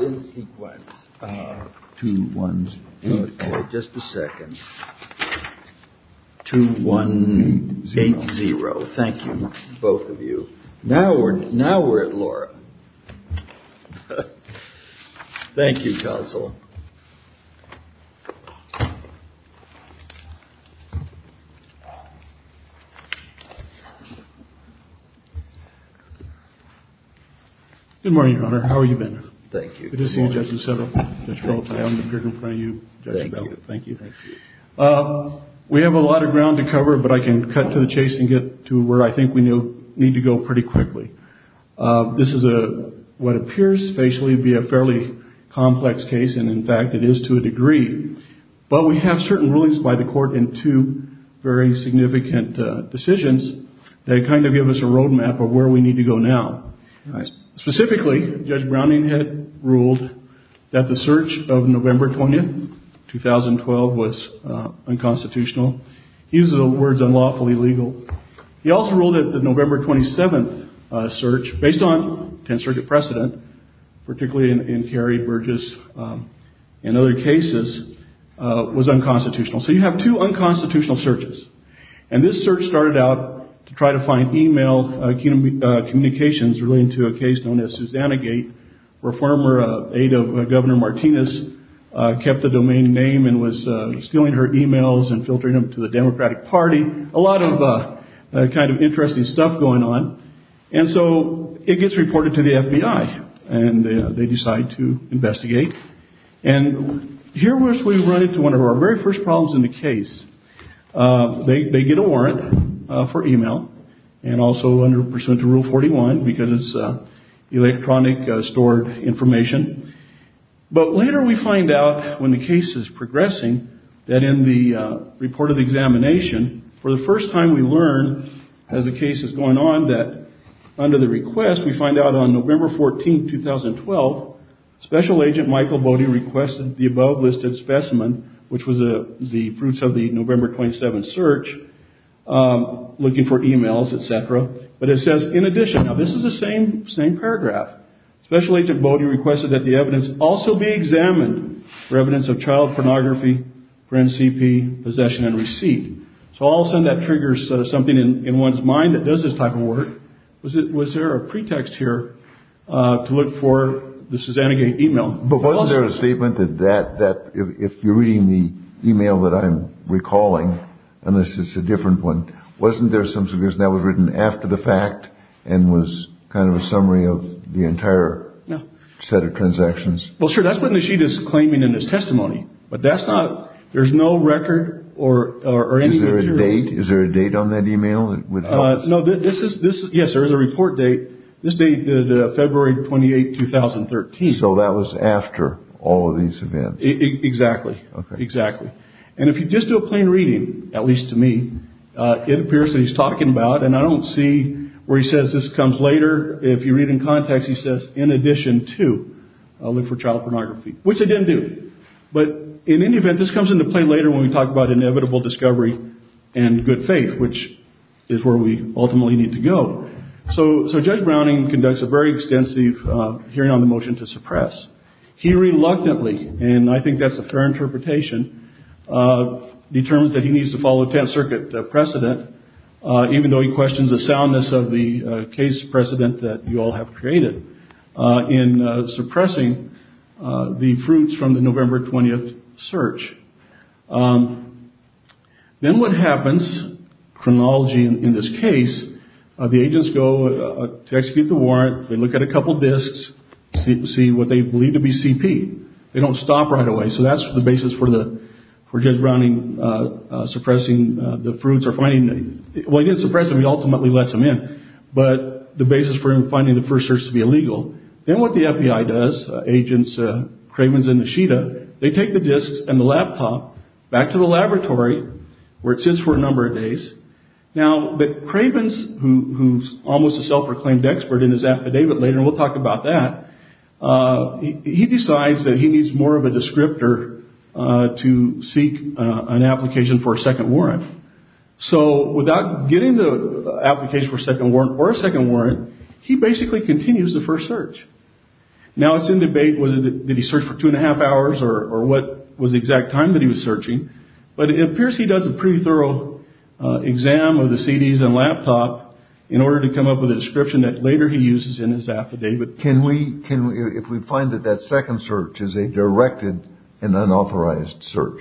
in sequence to one just a second to one zero thank you both of you now we're now we're at Laura thank you counsel we have a lot of ground to cover but I can cut to the chase and get to where I think we know need to go pretty quickly this is a what appears but we have certain rulings by the court in two very significant decisions that kind of give us a road map of where we need to go now specifically Judge Browning had ruled that the search of November 20th 2012 was unconstitutional he's the words unlawfully legal he also ruled that November 27th search based on 10th Circuit precedent particularly in Kerry Burgess and other cases was unconstitutional so you have two unconstitutional searches and this search started out to try to find email communications relating to a case known as Susanna Gate where former aide of Governor Martinez kept the domain name and was stealing her emails and filtering them to the Democratic Party a lot of kind of interesting stuff going on and so it gets reported to the FBI and they decide to investigate and here we run into one of our very first problems in the case they get a but later we find out when the case is progressing that in the report of the examination for the first time we learn as the case is going on that under the request we find out on November 14th 2012 Special Agent Michael Bode requested the above listed specimen which was the fruits of the November 27th the evidence also be examined for evidence of child pornography for NCP possession and receipt so all of a sudden that triggers something in one's mind that does this type of work was it was there a pretext here to look for the Susanna Gate email but wasn't there a statement that that that if you're reading the email that I'm recalling and this is a different one wasn't there something that was written after the fact and was kind of a summary of the entire set of transactions well sure that's what she is claiming in his testimony but that's not there's no record or is there a date is there a date on that email that would know that this is this yes there is a report date this date the February 28 2013 so that was after all of these events exactly exactly and if you just do a plain reading at least to me it appears that he's talking about and I don't see where he says this comes later if you read in context he says in addition to look for child pornography which I didn't do but in any event this comes into play later when we talk about inevitable discovery and good faith which is where we ultimately need to go so Judge Browning conducts a very extensive hearing on the motion to suppress he reluctantly and I think that's a fair interpretation determines that he needs to follow 10th Circuit precedent even though he questions the soundness of the case precedent that you all have created in suppressing the fruits from the November 20th search then what happens chronology in this case the agents go to execute the warrant they look at a couple disks see what they believe to be CP they don't stop right away so that's the basis for the for Judge Browning suppressing the fruits or finding well he didn't suppress them he ultimately lets them in but the basis for him then what the FBI does agents Cravens and Nishida they take the disks and the laptop back to the laboratory where it sits for a number of days now that Cravens who's almost a self-proclaimed expert in his affidavit later we'll talk about that he decides that he needs more of a descriptor to seek an application for a second warrant so without getting the application for a second warrant or a second warrant he basically continues the first search now it's in debate whether he searched for two and a half hours or what was the exact time that he was searching but it appears he does a pretty thorough exam of the CDs and laptop in order to come up with a description that later he uses in his affidavit if we find that that second search is a directed and unauthorized search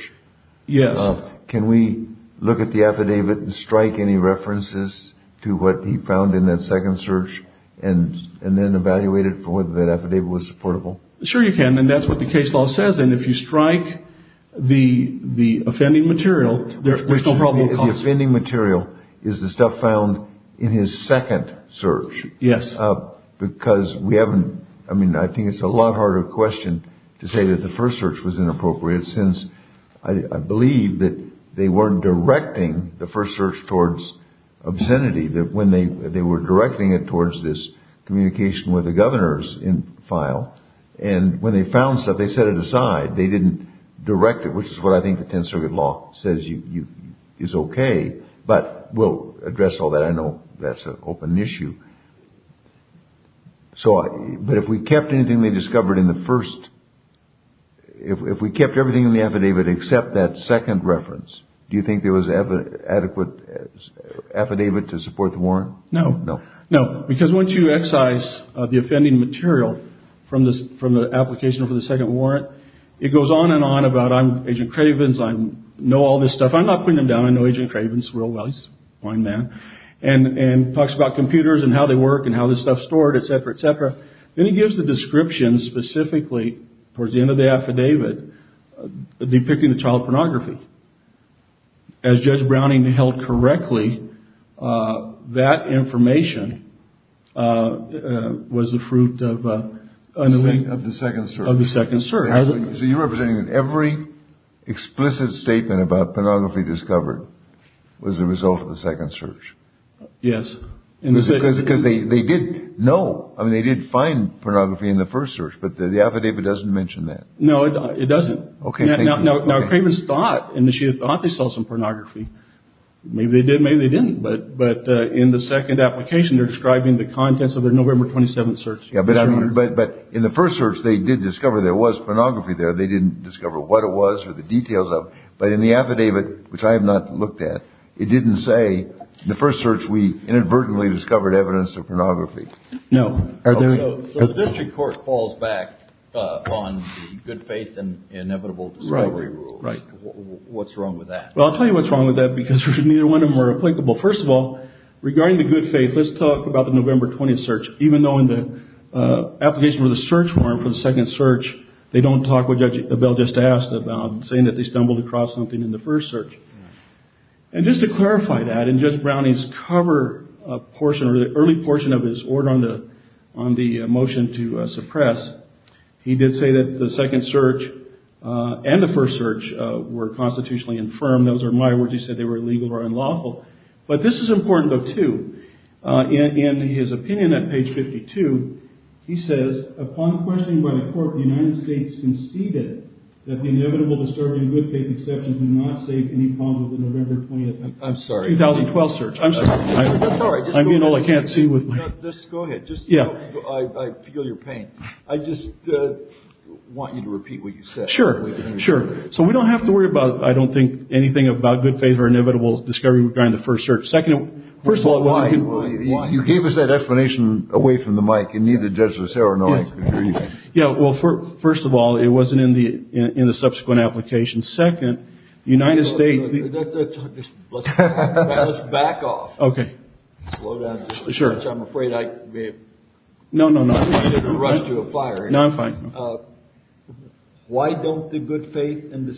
can we look at the affidavit and strike any references to what he found in that second search and then evaluate it for whether that affidavit was supportable sure you can and that's what the case law says and if you strike the offending material there's no problem at all the offending material is the stuff found in his second search yes because we haven't I mean I think it's a lot harder question to say that the first search was inappropriate since I believe that they weren't directing the first search towards obscenity that when they were directing it towards this communication with the governors in file and when they found stuff they set it aside they didn't direct it which is what I think the tenth circuit law says is okay but we'll address all that I know that's an open issue but if we kept anything they discovered in the first if we kept everything in the affidavit except that second reference do you think there was adequate affidavit to support the warrant? no no because once you excise the offending material from the application for the second warrant it goes on and on about I'm agent Cravens I know all this stuff I'm not putting him down I know agent Cravens real well he's a fine man and talks about computers and how they work and how this stuff is stored etc. etc. then he gives the description specifically towards the end of the affidavit depicting the child pornography as Judge Browning held correctly that information was the fruit of the second search so you're representing that every explicit statement about pornography discovered was the result of the second search yes because they didn't know I mean they did find pornography in the first search but the affidavit doesn't mention that no it doesn't okay now Cravens thought and she thought they saw some pornography maybe they did maybe they didn't but in the second application they're describing the contents of their November 27th search but in the first search they did discover there was pornography there they didn't discover what it was or the details of it but in the affidavit which I have not looked at it didn't say the first search we inadvertently discovered evidence of pornography no so the district court falls back on the good faith and inevitable discovery rules right what's wrong with that well I'll tell you what's wrong with that because neither one of them are applicable first of all regarding the good faith let's talk about the November 20th search even though in the application for the search warrant for the second search they don't talk what Judge Abell just asked about saying that they stumbled across something in the first search and just to clarify that in Judge Browning's cover portion or the early portion of his order on the motion to suppress he did say that the second search and the first search were constitutionally infirm those are my words he said they were illegal or unlawful but this is important though too in his opinion at page 52 he says upon questioning by the court the United States conceded that the inevitable discovery of good faith exceptions did not save any problems with the November 20th search I'm sorry 2012 search I'm sorry I'm sorry I mean all I can't see just go ahead I feel your pain I just want you to repeat what you said sure so we don't have to worry about I don't think anything about good faith or inevitable discovery regarding the first search first of all you gave us that explanation away from the mic and neither judge was there or no yeah well first of all it wasn't in the subsequent application second the United States let's back off okay slow down I'm afraid I may have no no no rushed you to a fire no I'm fine why don't the good faith and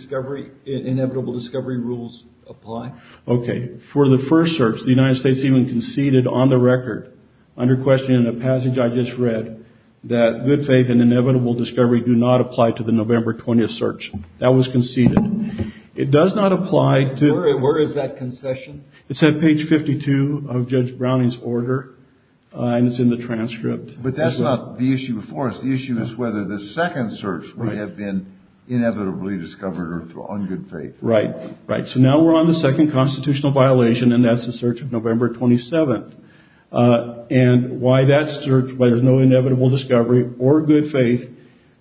inevitable discovery rules apply okay for the first search the United States even conceded on the record under question in the passage I just read that good faith and inevitable discovery do not apply to the November 20th search that was conceded it does not apply to where is that concession it's at page 52 of Judge Browning's order and it's in the transcript but that's not the issue before us the issue is whether the second search would have been inevitably discovered on good faith right so now we're on the second constitutional violation and that's the search of November 27th and why that search why there's no inevitable discovery or good faith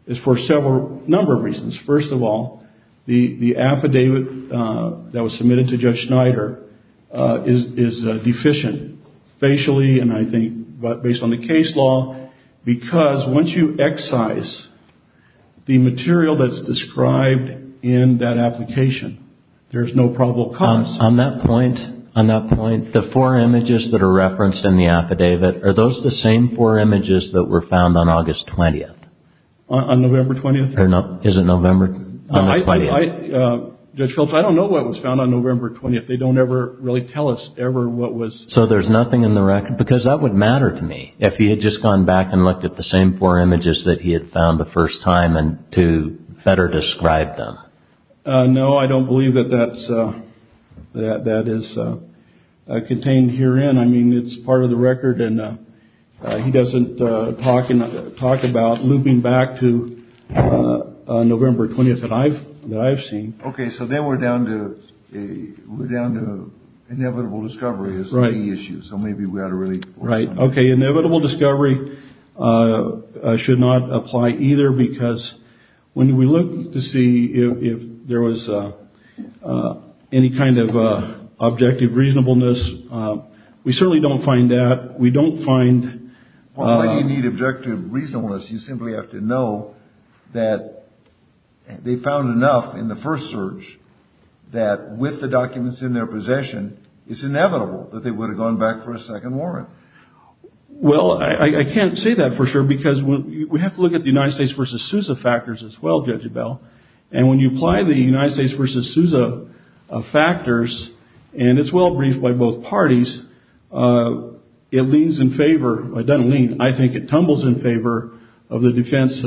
is for a number of reasons first of all the affidavit that was submitted to Judge Schneider is deficient facially and I think based on the case law because once you excise the material that's described in that application there's no probable cause on that point on that point the four images that are referenced in the affidavit are those the same four images that were found on August 20th on November 20th is it November 20th Judge Phillips I don't know what was found on November 20th they don't ever really tell us ever what was so there's nothing in the record because that would matter to me if he had just gone back and looked at the same four images that he had found the first time and to better describe them no I don't believe that that's that is contained herein I mean it's part of the record and he doesn't talk about looping back to November 20th that I've seen ok so then we're down to we're down to inevitable discovery is the key issue so maybe we ought to really right ok inevitable discovery should not apply either because when we look to see if there was any kind of objective reasonableness we certainly don't find that we don't find why do you need objective reasonableness you simply have to know that they found enough in the first search that with the documents in their possession it's inevitable that they would have gone back for a second warrant well I can't say that for sure because we have to look at the United States versus Sousa factors as well Judge Abell and when you apply the United States versus Sousa factors and it's well briefed by both parties it leans in favor it doesn't lean I think it tumbles in favor of the defense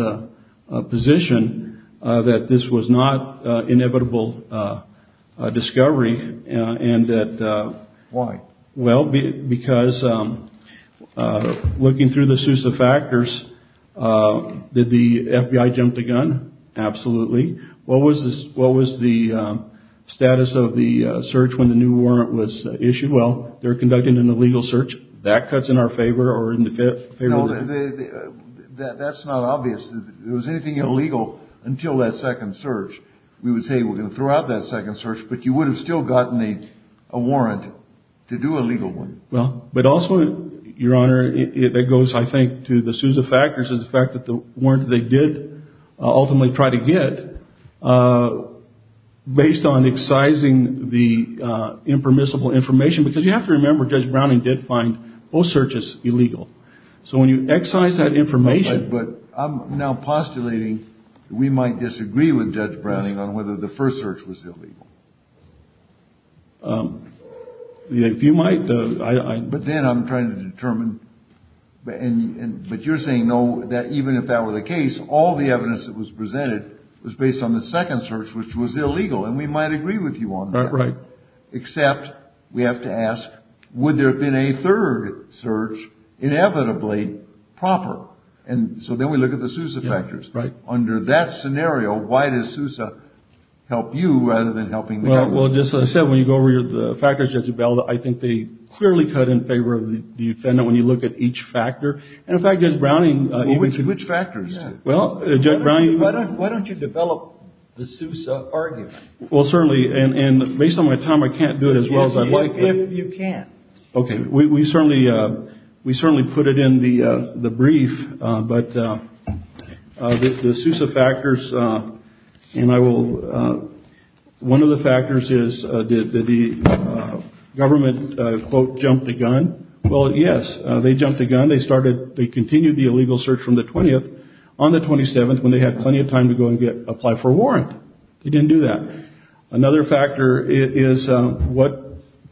position that this was not inevitable discovery and that why well because looking through the Sousa factors did the FBI jump the gun absolutely what was the status of the search when the new warrant was issued well they're conducting an illegal search that cuts in our favor or in the favor that's not obvious if there was anything illegal until that second search we would say we're going to throw out that second search but you would have still gotten a warrant to do a legal one well but also your honor that goes I think to the Sousa factors is the fact that the warrant they did ultimately try to get based on excising the impermissible information because you have to remember Judge Browning did find both searches illegal so when you excise that information but I'm now postulating we might disagree with Judge Browning on whether the first search was illegal if you might but then I'm trying to determine but you're saying no that even if that were the case all the evidence that was presented was based on the second search which was illegal and we might agree with you on that except we have to ask would there have been a third search inevitably proper and so then we look at the Sousa factors under that scenario why does Sousa help you rather than helping the government well just as I said when you go over the factors Judge Ebel I think they clearly cut in favor of the defendant when you look at each factor and in fact Judge Browning which factors well Judge Browning why don't you develop the Sousa argument well certainly and based on my time I can't do it as well as I'd like if you can okay we certainly we certainly put it in the brief but the Sousa factors and I will one of the factors is did the government quote jump the gun well yes they jumped the gun they started they continued the illegal search from the 20th on the 27th when they had plenty of time to go and get apply for a warrant they didn't do that another factor is what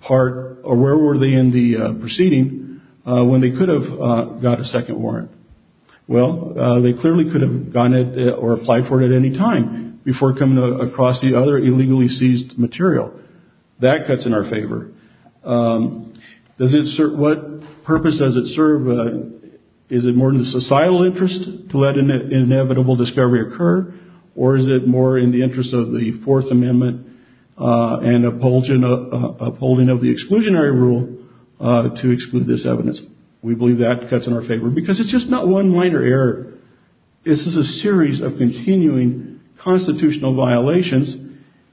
part or where were they in the proceeding when they could have got a second warrant well they clearly could have gone or applied for it at any time before coming across the other illegally seized material that cuts in our favor what purpose does it serve is it more in the societal interest to let inevitable discovery occur or is it more in the this is a series of continuing constitutional violations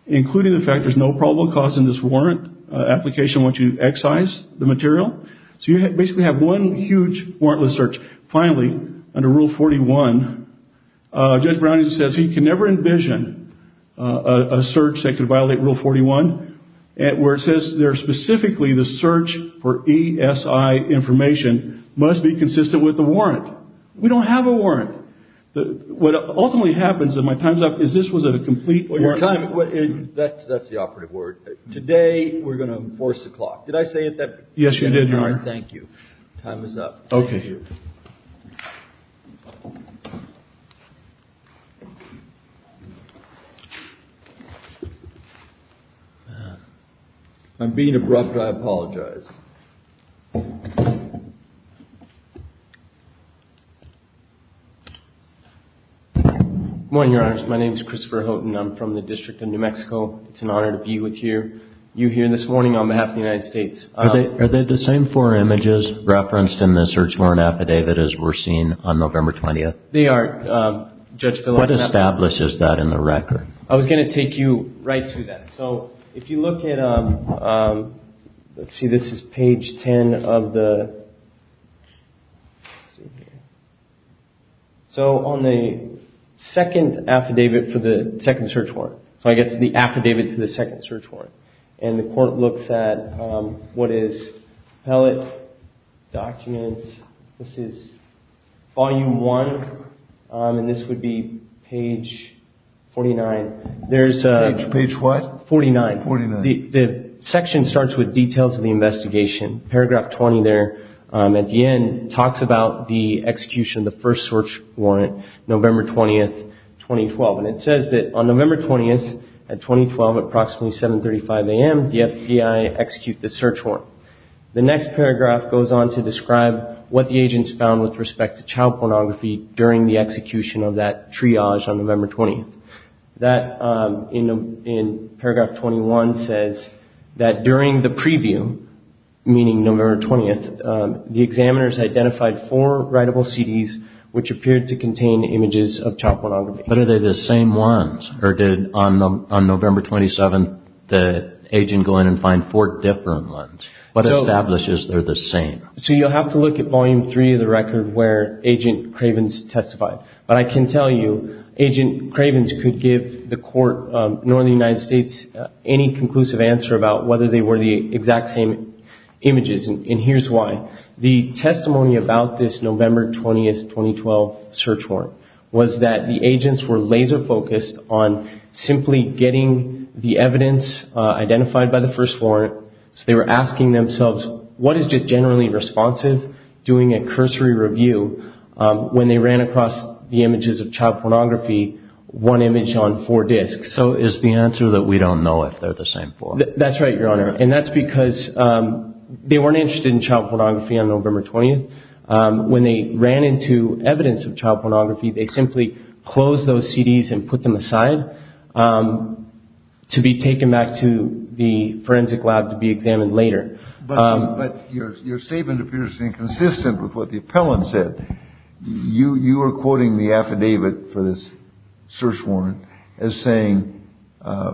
including the fact there is no probable cause in this warrant application once you excise the material so you basically have one huge warrantless search finally under rule 41 Judge Brown says he can never envision a search that could ultimately happens is this was a complete warrant that's the operative word today we are enforce the clock did I say it yes you did thank you time is up I'm being abrupt I apologize morning your honor my name is Christopher Houghton I'm from the district of New Mexico it's an honor to be with you here this morning on behalf of the United States are they the same four images referenced in the search warrant affidavit as we're seeing on November 20th what establishes that in the record I was going to take you right so if you look let's see this is page 10 of the so on the second affidavit for the second search warrant so I guess the affidavit to the second search warrant and the court looks at what is pellet documents this is volume one and this would be page 49 there's page what 49 49 the section starts with details of the investigation paragraph 20 there at the end talks about the execution of the first search warrant November 20th 2012 says on November 20th at approximately 735 a.m. the FBI executed the search warrant the next paragraph goes on to describe what the agents found with respect to child pornography during the execution of that triage on November 20th that in paragraph 21 says that during the preview meaning November 20th the examiners identified four different ones what establishes they're the same so you'll have to look at volume three of the record where agent Cravens testified but I can tell you agent Cravens could not give the court nor the United States any conclusive answer about whether they were the exact same images and here's why the testimony about this November 20th search warrant was that the agents were laser focused on simply getting the evidence identified by the first warrant so they were asking themselves what is generally responsive doing a cursory review when they ran across the images of child pornography one image on four disks so is the answer that we don't know if they're the same form that's right your honor and that's because they weren't interested in child pornography on November 20th when they ran into evidence of child pornography they simply closed those CDs and put them aside to be taken back to the forensic lab to be examined later but your statement appears inconsistent with what the appellant said you are quoting the affidavit for this search warrant as saying in the United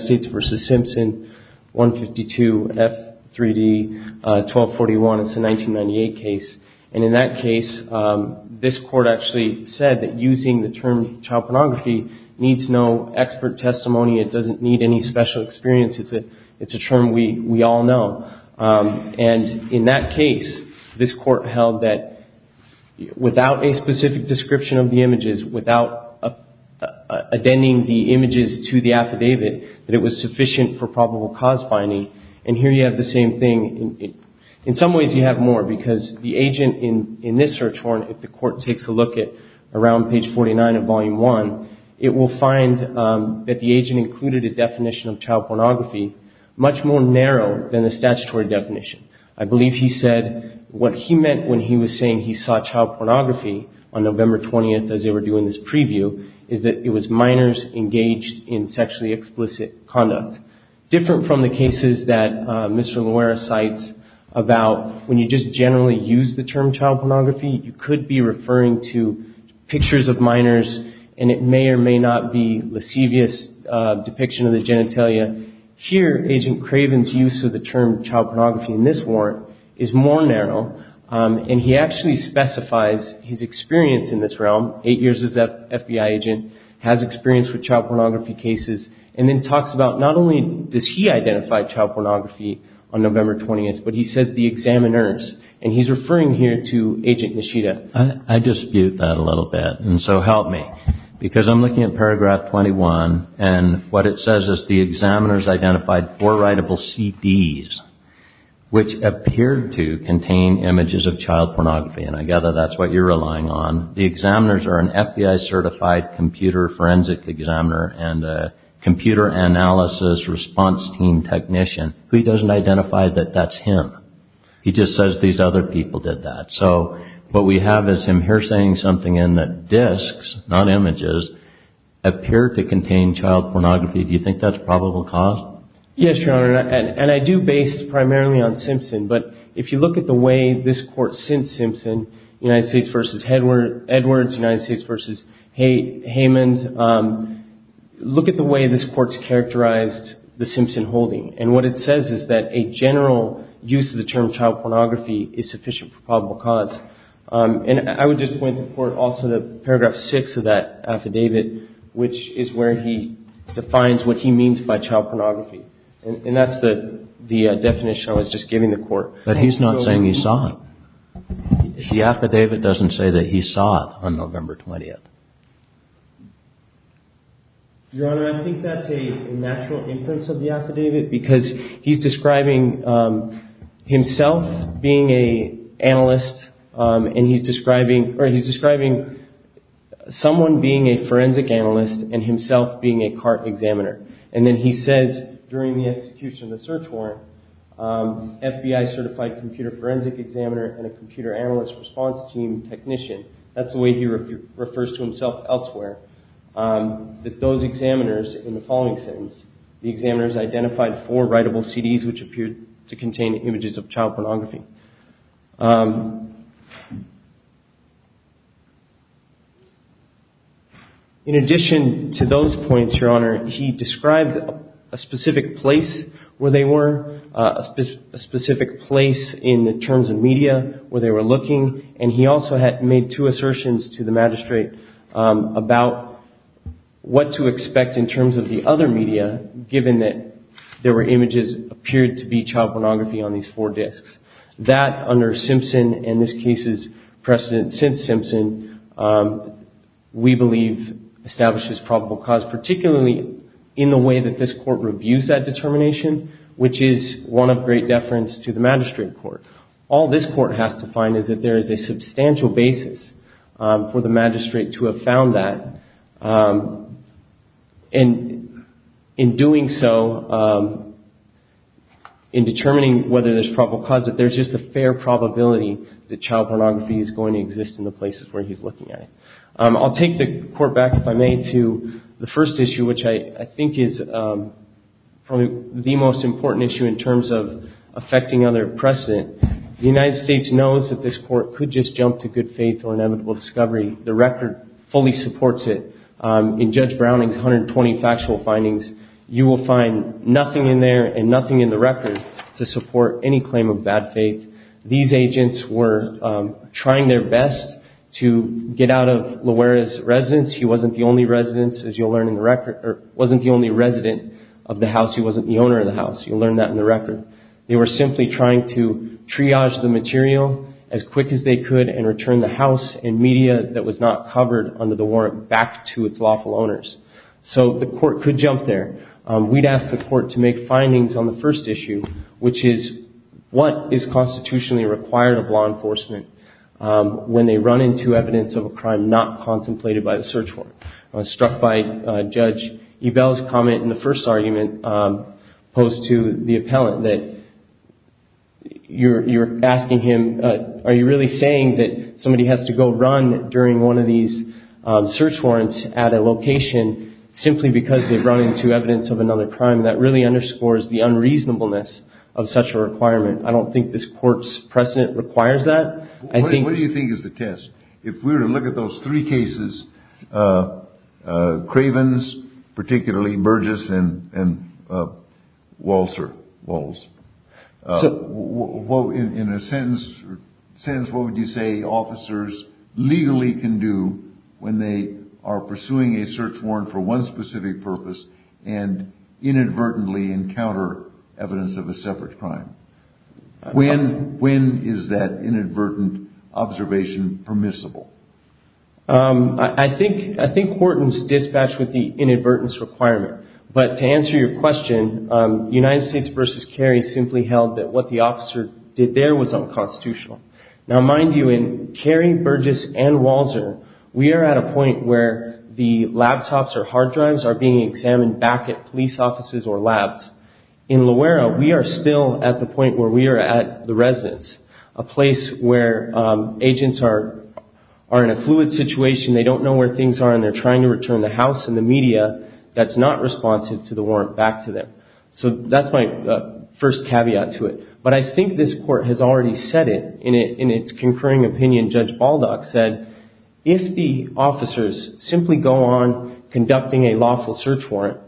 States versus Simpson 152 F3D 1241 it's a 1998 case and in that case this court actually said that using the term child pornography needs no expert testimony it doesn't need any special experience it's a term we all know and in that case this court held that without a specific description of the images without addending the images to the affidavit it was sufficient for probable cause finding and here you have the where the agent included a definition of child pornography much more narrow than the statutory definition I believe he said what he meant when he was saying he saw child pornography on November 20th as they were doing this preview it was minors engaged in sexually explicit conduct different from the cases that Mr. Loera cites about when you just generally use the term child pornography you could be referring to pictures of minors and it is more narrow and he actually specifies his experience in this realm has experience with child pornography cases and then talks about not only does he identify child pornography on November 20th but he says the examiners and he's referring here to appear to contain images of child pornography and I gather that's what you're relying on. The examiners are an FBI certified computer forensic examiner and a computer analysis response team technician who he doesn't identify that that's him. He just says these are the child pornography and he says the other people did that. So what we have is him something in that disks not images appear to contain child pornography. Do you think that's a probable cause? Yes, your honor, and I do a probable cause. It's really based primarily on Simpson, but if you look at the way this court since Simpson, United States v. Edwards, United States v. Heyman, look at the way this court's characterized the Simpson holding and what it says is that a general use of the term child pornography is sufficient for probable cause. And I would just point the court also to paragraph six of that affidavit which is where he defines what he means by child pornography. And that's the definition I was just giving the court. But he's not saying he saw it. The affidavit describes himself being an analyst and he's describing someone being a forensic analyst and himself being a CART examiner. And then he says during the execution of the search warrant FBI certified forensic examiner and a computer analyst response team technician. That's the way he describes the images of child pornography. In addition to those points, your honor, he described a specific place where they were, a specific place in the terms of media where they were looking and he also made two assertions to the magistrate about what to expect in terms of the other media given that there were no evidence of child pornography on these four disks. That under Simpson and this case's precedent since Simpson, we believe establishes probable cause particularly in the way that this court reviews that determination which is one of great deference to the magistrate court. All this court has to find is that there is a substantial basis for the magistrate to have found that and in doing so in determining whether there's probable cause that there's just a fair probability that child pornography is going to exist in the places where he's looking at it. I'll take the court back if I may to the first issue which I think is probably the most important issue in terms of affecting other precedent. The United States knows that this court could just jump to good faith or inevitable discovery. The record fully supports it. In Judge Browning's 120 factual findings you will find nothing in there and nothing in the record to support any claim of bad faith. These agents were trying their best to get out of Loera's residence. He wasn't the only resident of the house. He wasn't the owner of the house. You'll learn that in the record. They were simply trying to triage the material as quick as they could and return the house and media that was not covered under the warrant back to its lawful owners. So the court could jump there. We would ask the court to make findings on the first issue which is what is constitutionally required of law enforcement when they run into evidence of a crime not contemplated by the search warrant. I was struck by Judge Ebell's comment in the first argument opposed to the appellant that you're asking him are you really saying that somebody has to go run during one of these search warrants at a location simply because they run into evidence of another crime that really underscores the unreasonableness of such a requirement. I don't think this court's precedent requires that. What do you think is the test? If we were to look at those three cases, Cravens, particularly Burgess, and Walser, in a sense, what would you say officers legally can do when they are pursuing a search warrant for one specific purpose and inadvertently encounter evidence of a separate crime? When is that inadvertent observation permissible? I think Horton's dispatched with the inadvertence requirement, but to answer your question, United States versus Cary simply held that what the officer did there was unconstitutional. Now, mind you, in Cary, Burgess, and Walser, we are at a point where the laptops or computers in the court are in a fluid situation, they don't know where things are, and they're trying to return the house and the media that's not responsive to the warrant back to them. So that's my first caveat to it. But I think this court has already said it in its concurring opinion. The concurring opinion in Judge Baldock said if the officers simply go on conducting a lawful search warrant,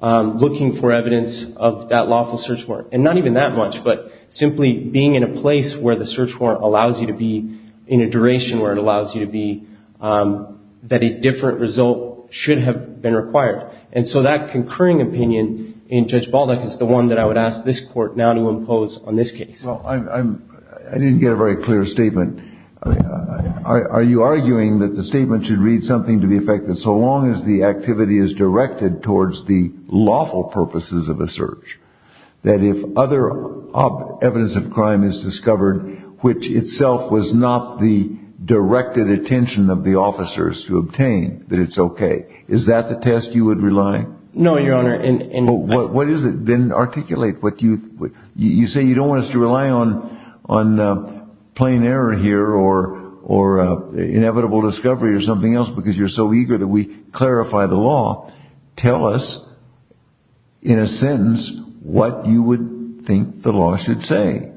looking for evidence of that lawful search warrant, and not even that much, but simply being in a place where the search warrant allows you to be in a duration where it allows you to be that a different result should have been required. And so that concurring opinion in Judge Baldock is the one that I would ask this court now to impose on this case. Well, I didn't get a very clear statement. Are you arguing that the statement should read something to the effect that so long as the activity is directed towards the law, towards the law? No, Your Honor. Well, what is it? Then articulate what you say. You don't want us to rely on plain error here or inevitable discovery or something else because you're so eager that we clarify the law. Tell us in a sentence what you would think the law should say.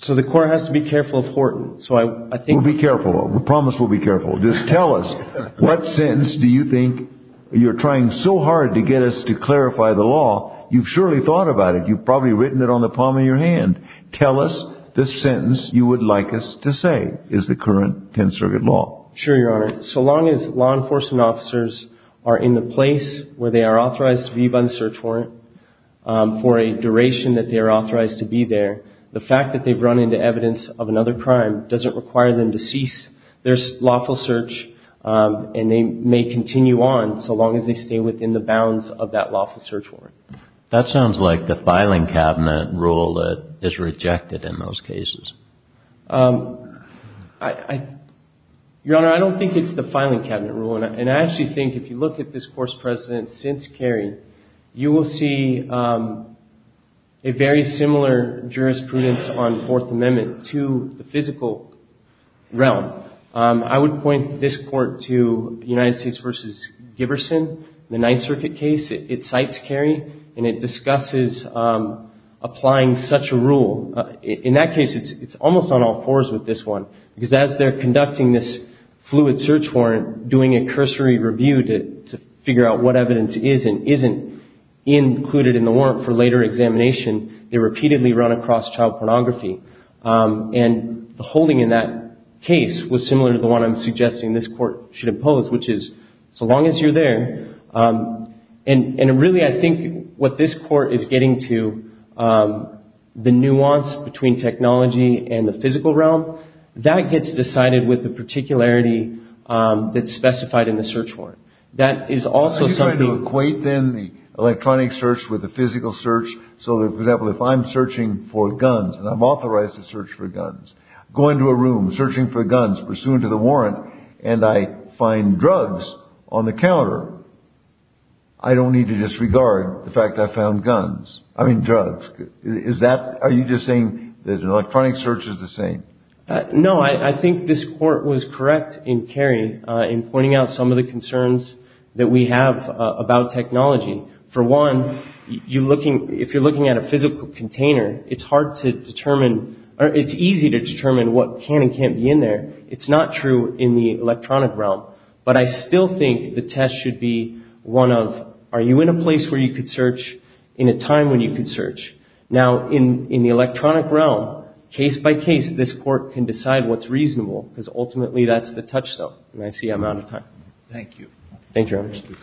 So the court has to be careful of Horton. We'll be careful. We promise we'll be careful. Just tell us what sentence do you think you're trying so hard to get us to clarify the law. You've surely thought about it. You've probably written it down on the palm of your hand. Tell us the sentence you would like us to say is the current Tenth Circuit law. Sure, Your Honor. So long as law enforcement officers are in the place where they are authorized to be by the search warrant for a duration that they are authorized to be there, the fact that they've run into evidence of another search warrant. That sounds like the filing cabinet rule that is rejected in those cases. Your Honor, I don't think it's the filing cabinet rule, and I actually think if you look at this Course President since Kerry, you will see a very similar jurisprudence on Fourth Amendment to the physical realm. I would point this court to United States v. Giberson, the Ninth Circuit case it cites Kerry, and it discusses applying such a rule. In that case, it's almost on all fours with this one because as they're conducting this fluid search warrant, doing a cursory review to figure out what evidence is and isn't included in the warrant for later use, this court should impose which is, so long as you're there, and really I think what this court is getting to, the nuance between technology and the physical realm, that gets decided with the particularity that's specified in the search warrant. That is also something – Are you trying to equate then the electronic search with the physical search, so that, for example, if I'm searching for guns, and I'm authorized to search for guns, going to a room, searching for guns, pursuing to the warrant, and I find drugs on the counter, I don't need to disregard the fact that I found drugs. Are you just saying that electronic search is the same? No. I think this court was correct in pointing out some of the concerns that we have about technology. For one, if you're looking at a physical container, it's easy to determine what can and can't be in there. It's not true in the electronic realm, but I still think the test should be one of, are you in a place where you can search, in a time when you can search? Now, in the electronic realm, case by case, this court can decide what's reasonable, because ultimately that's the touchstone. And I see I'm out of time. Thank you. Thank you, Thank you.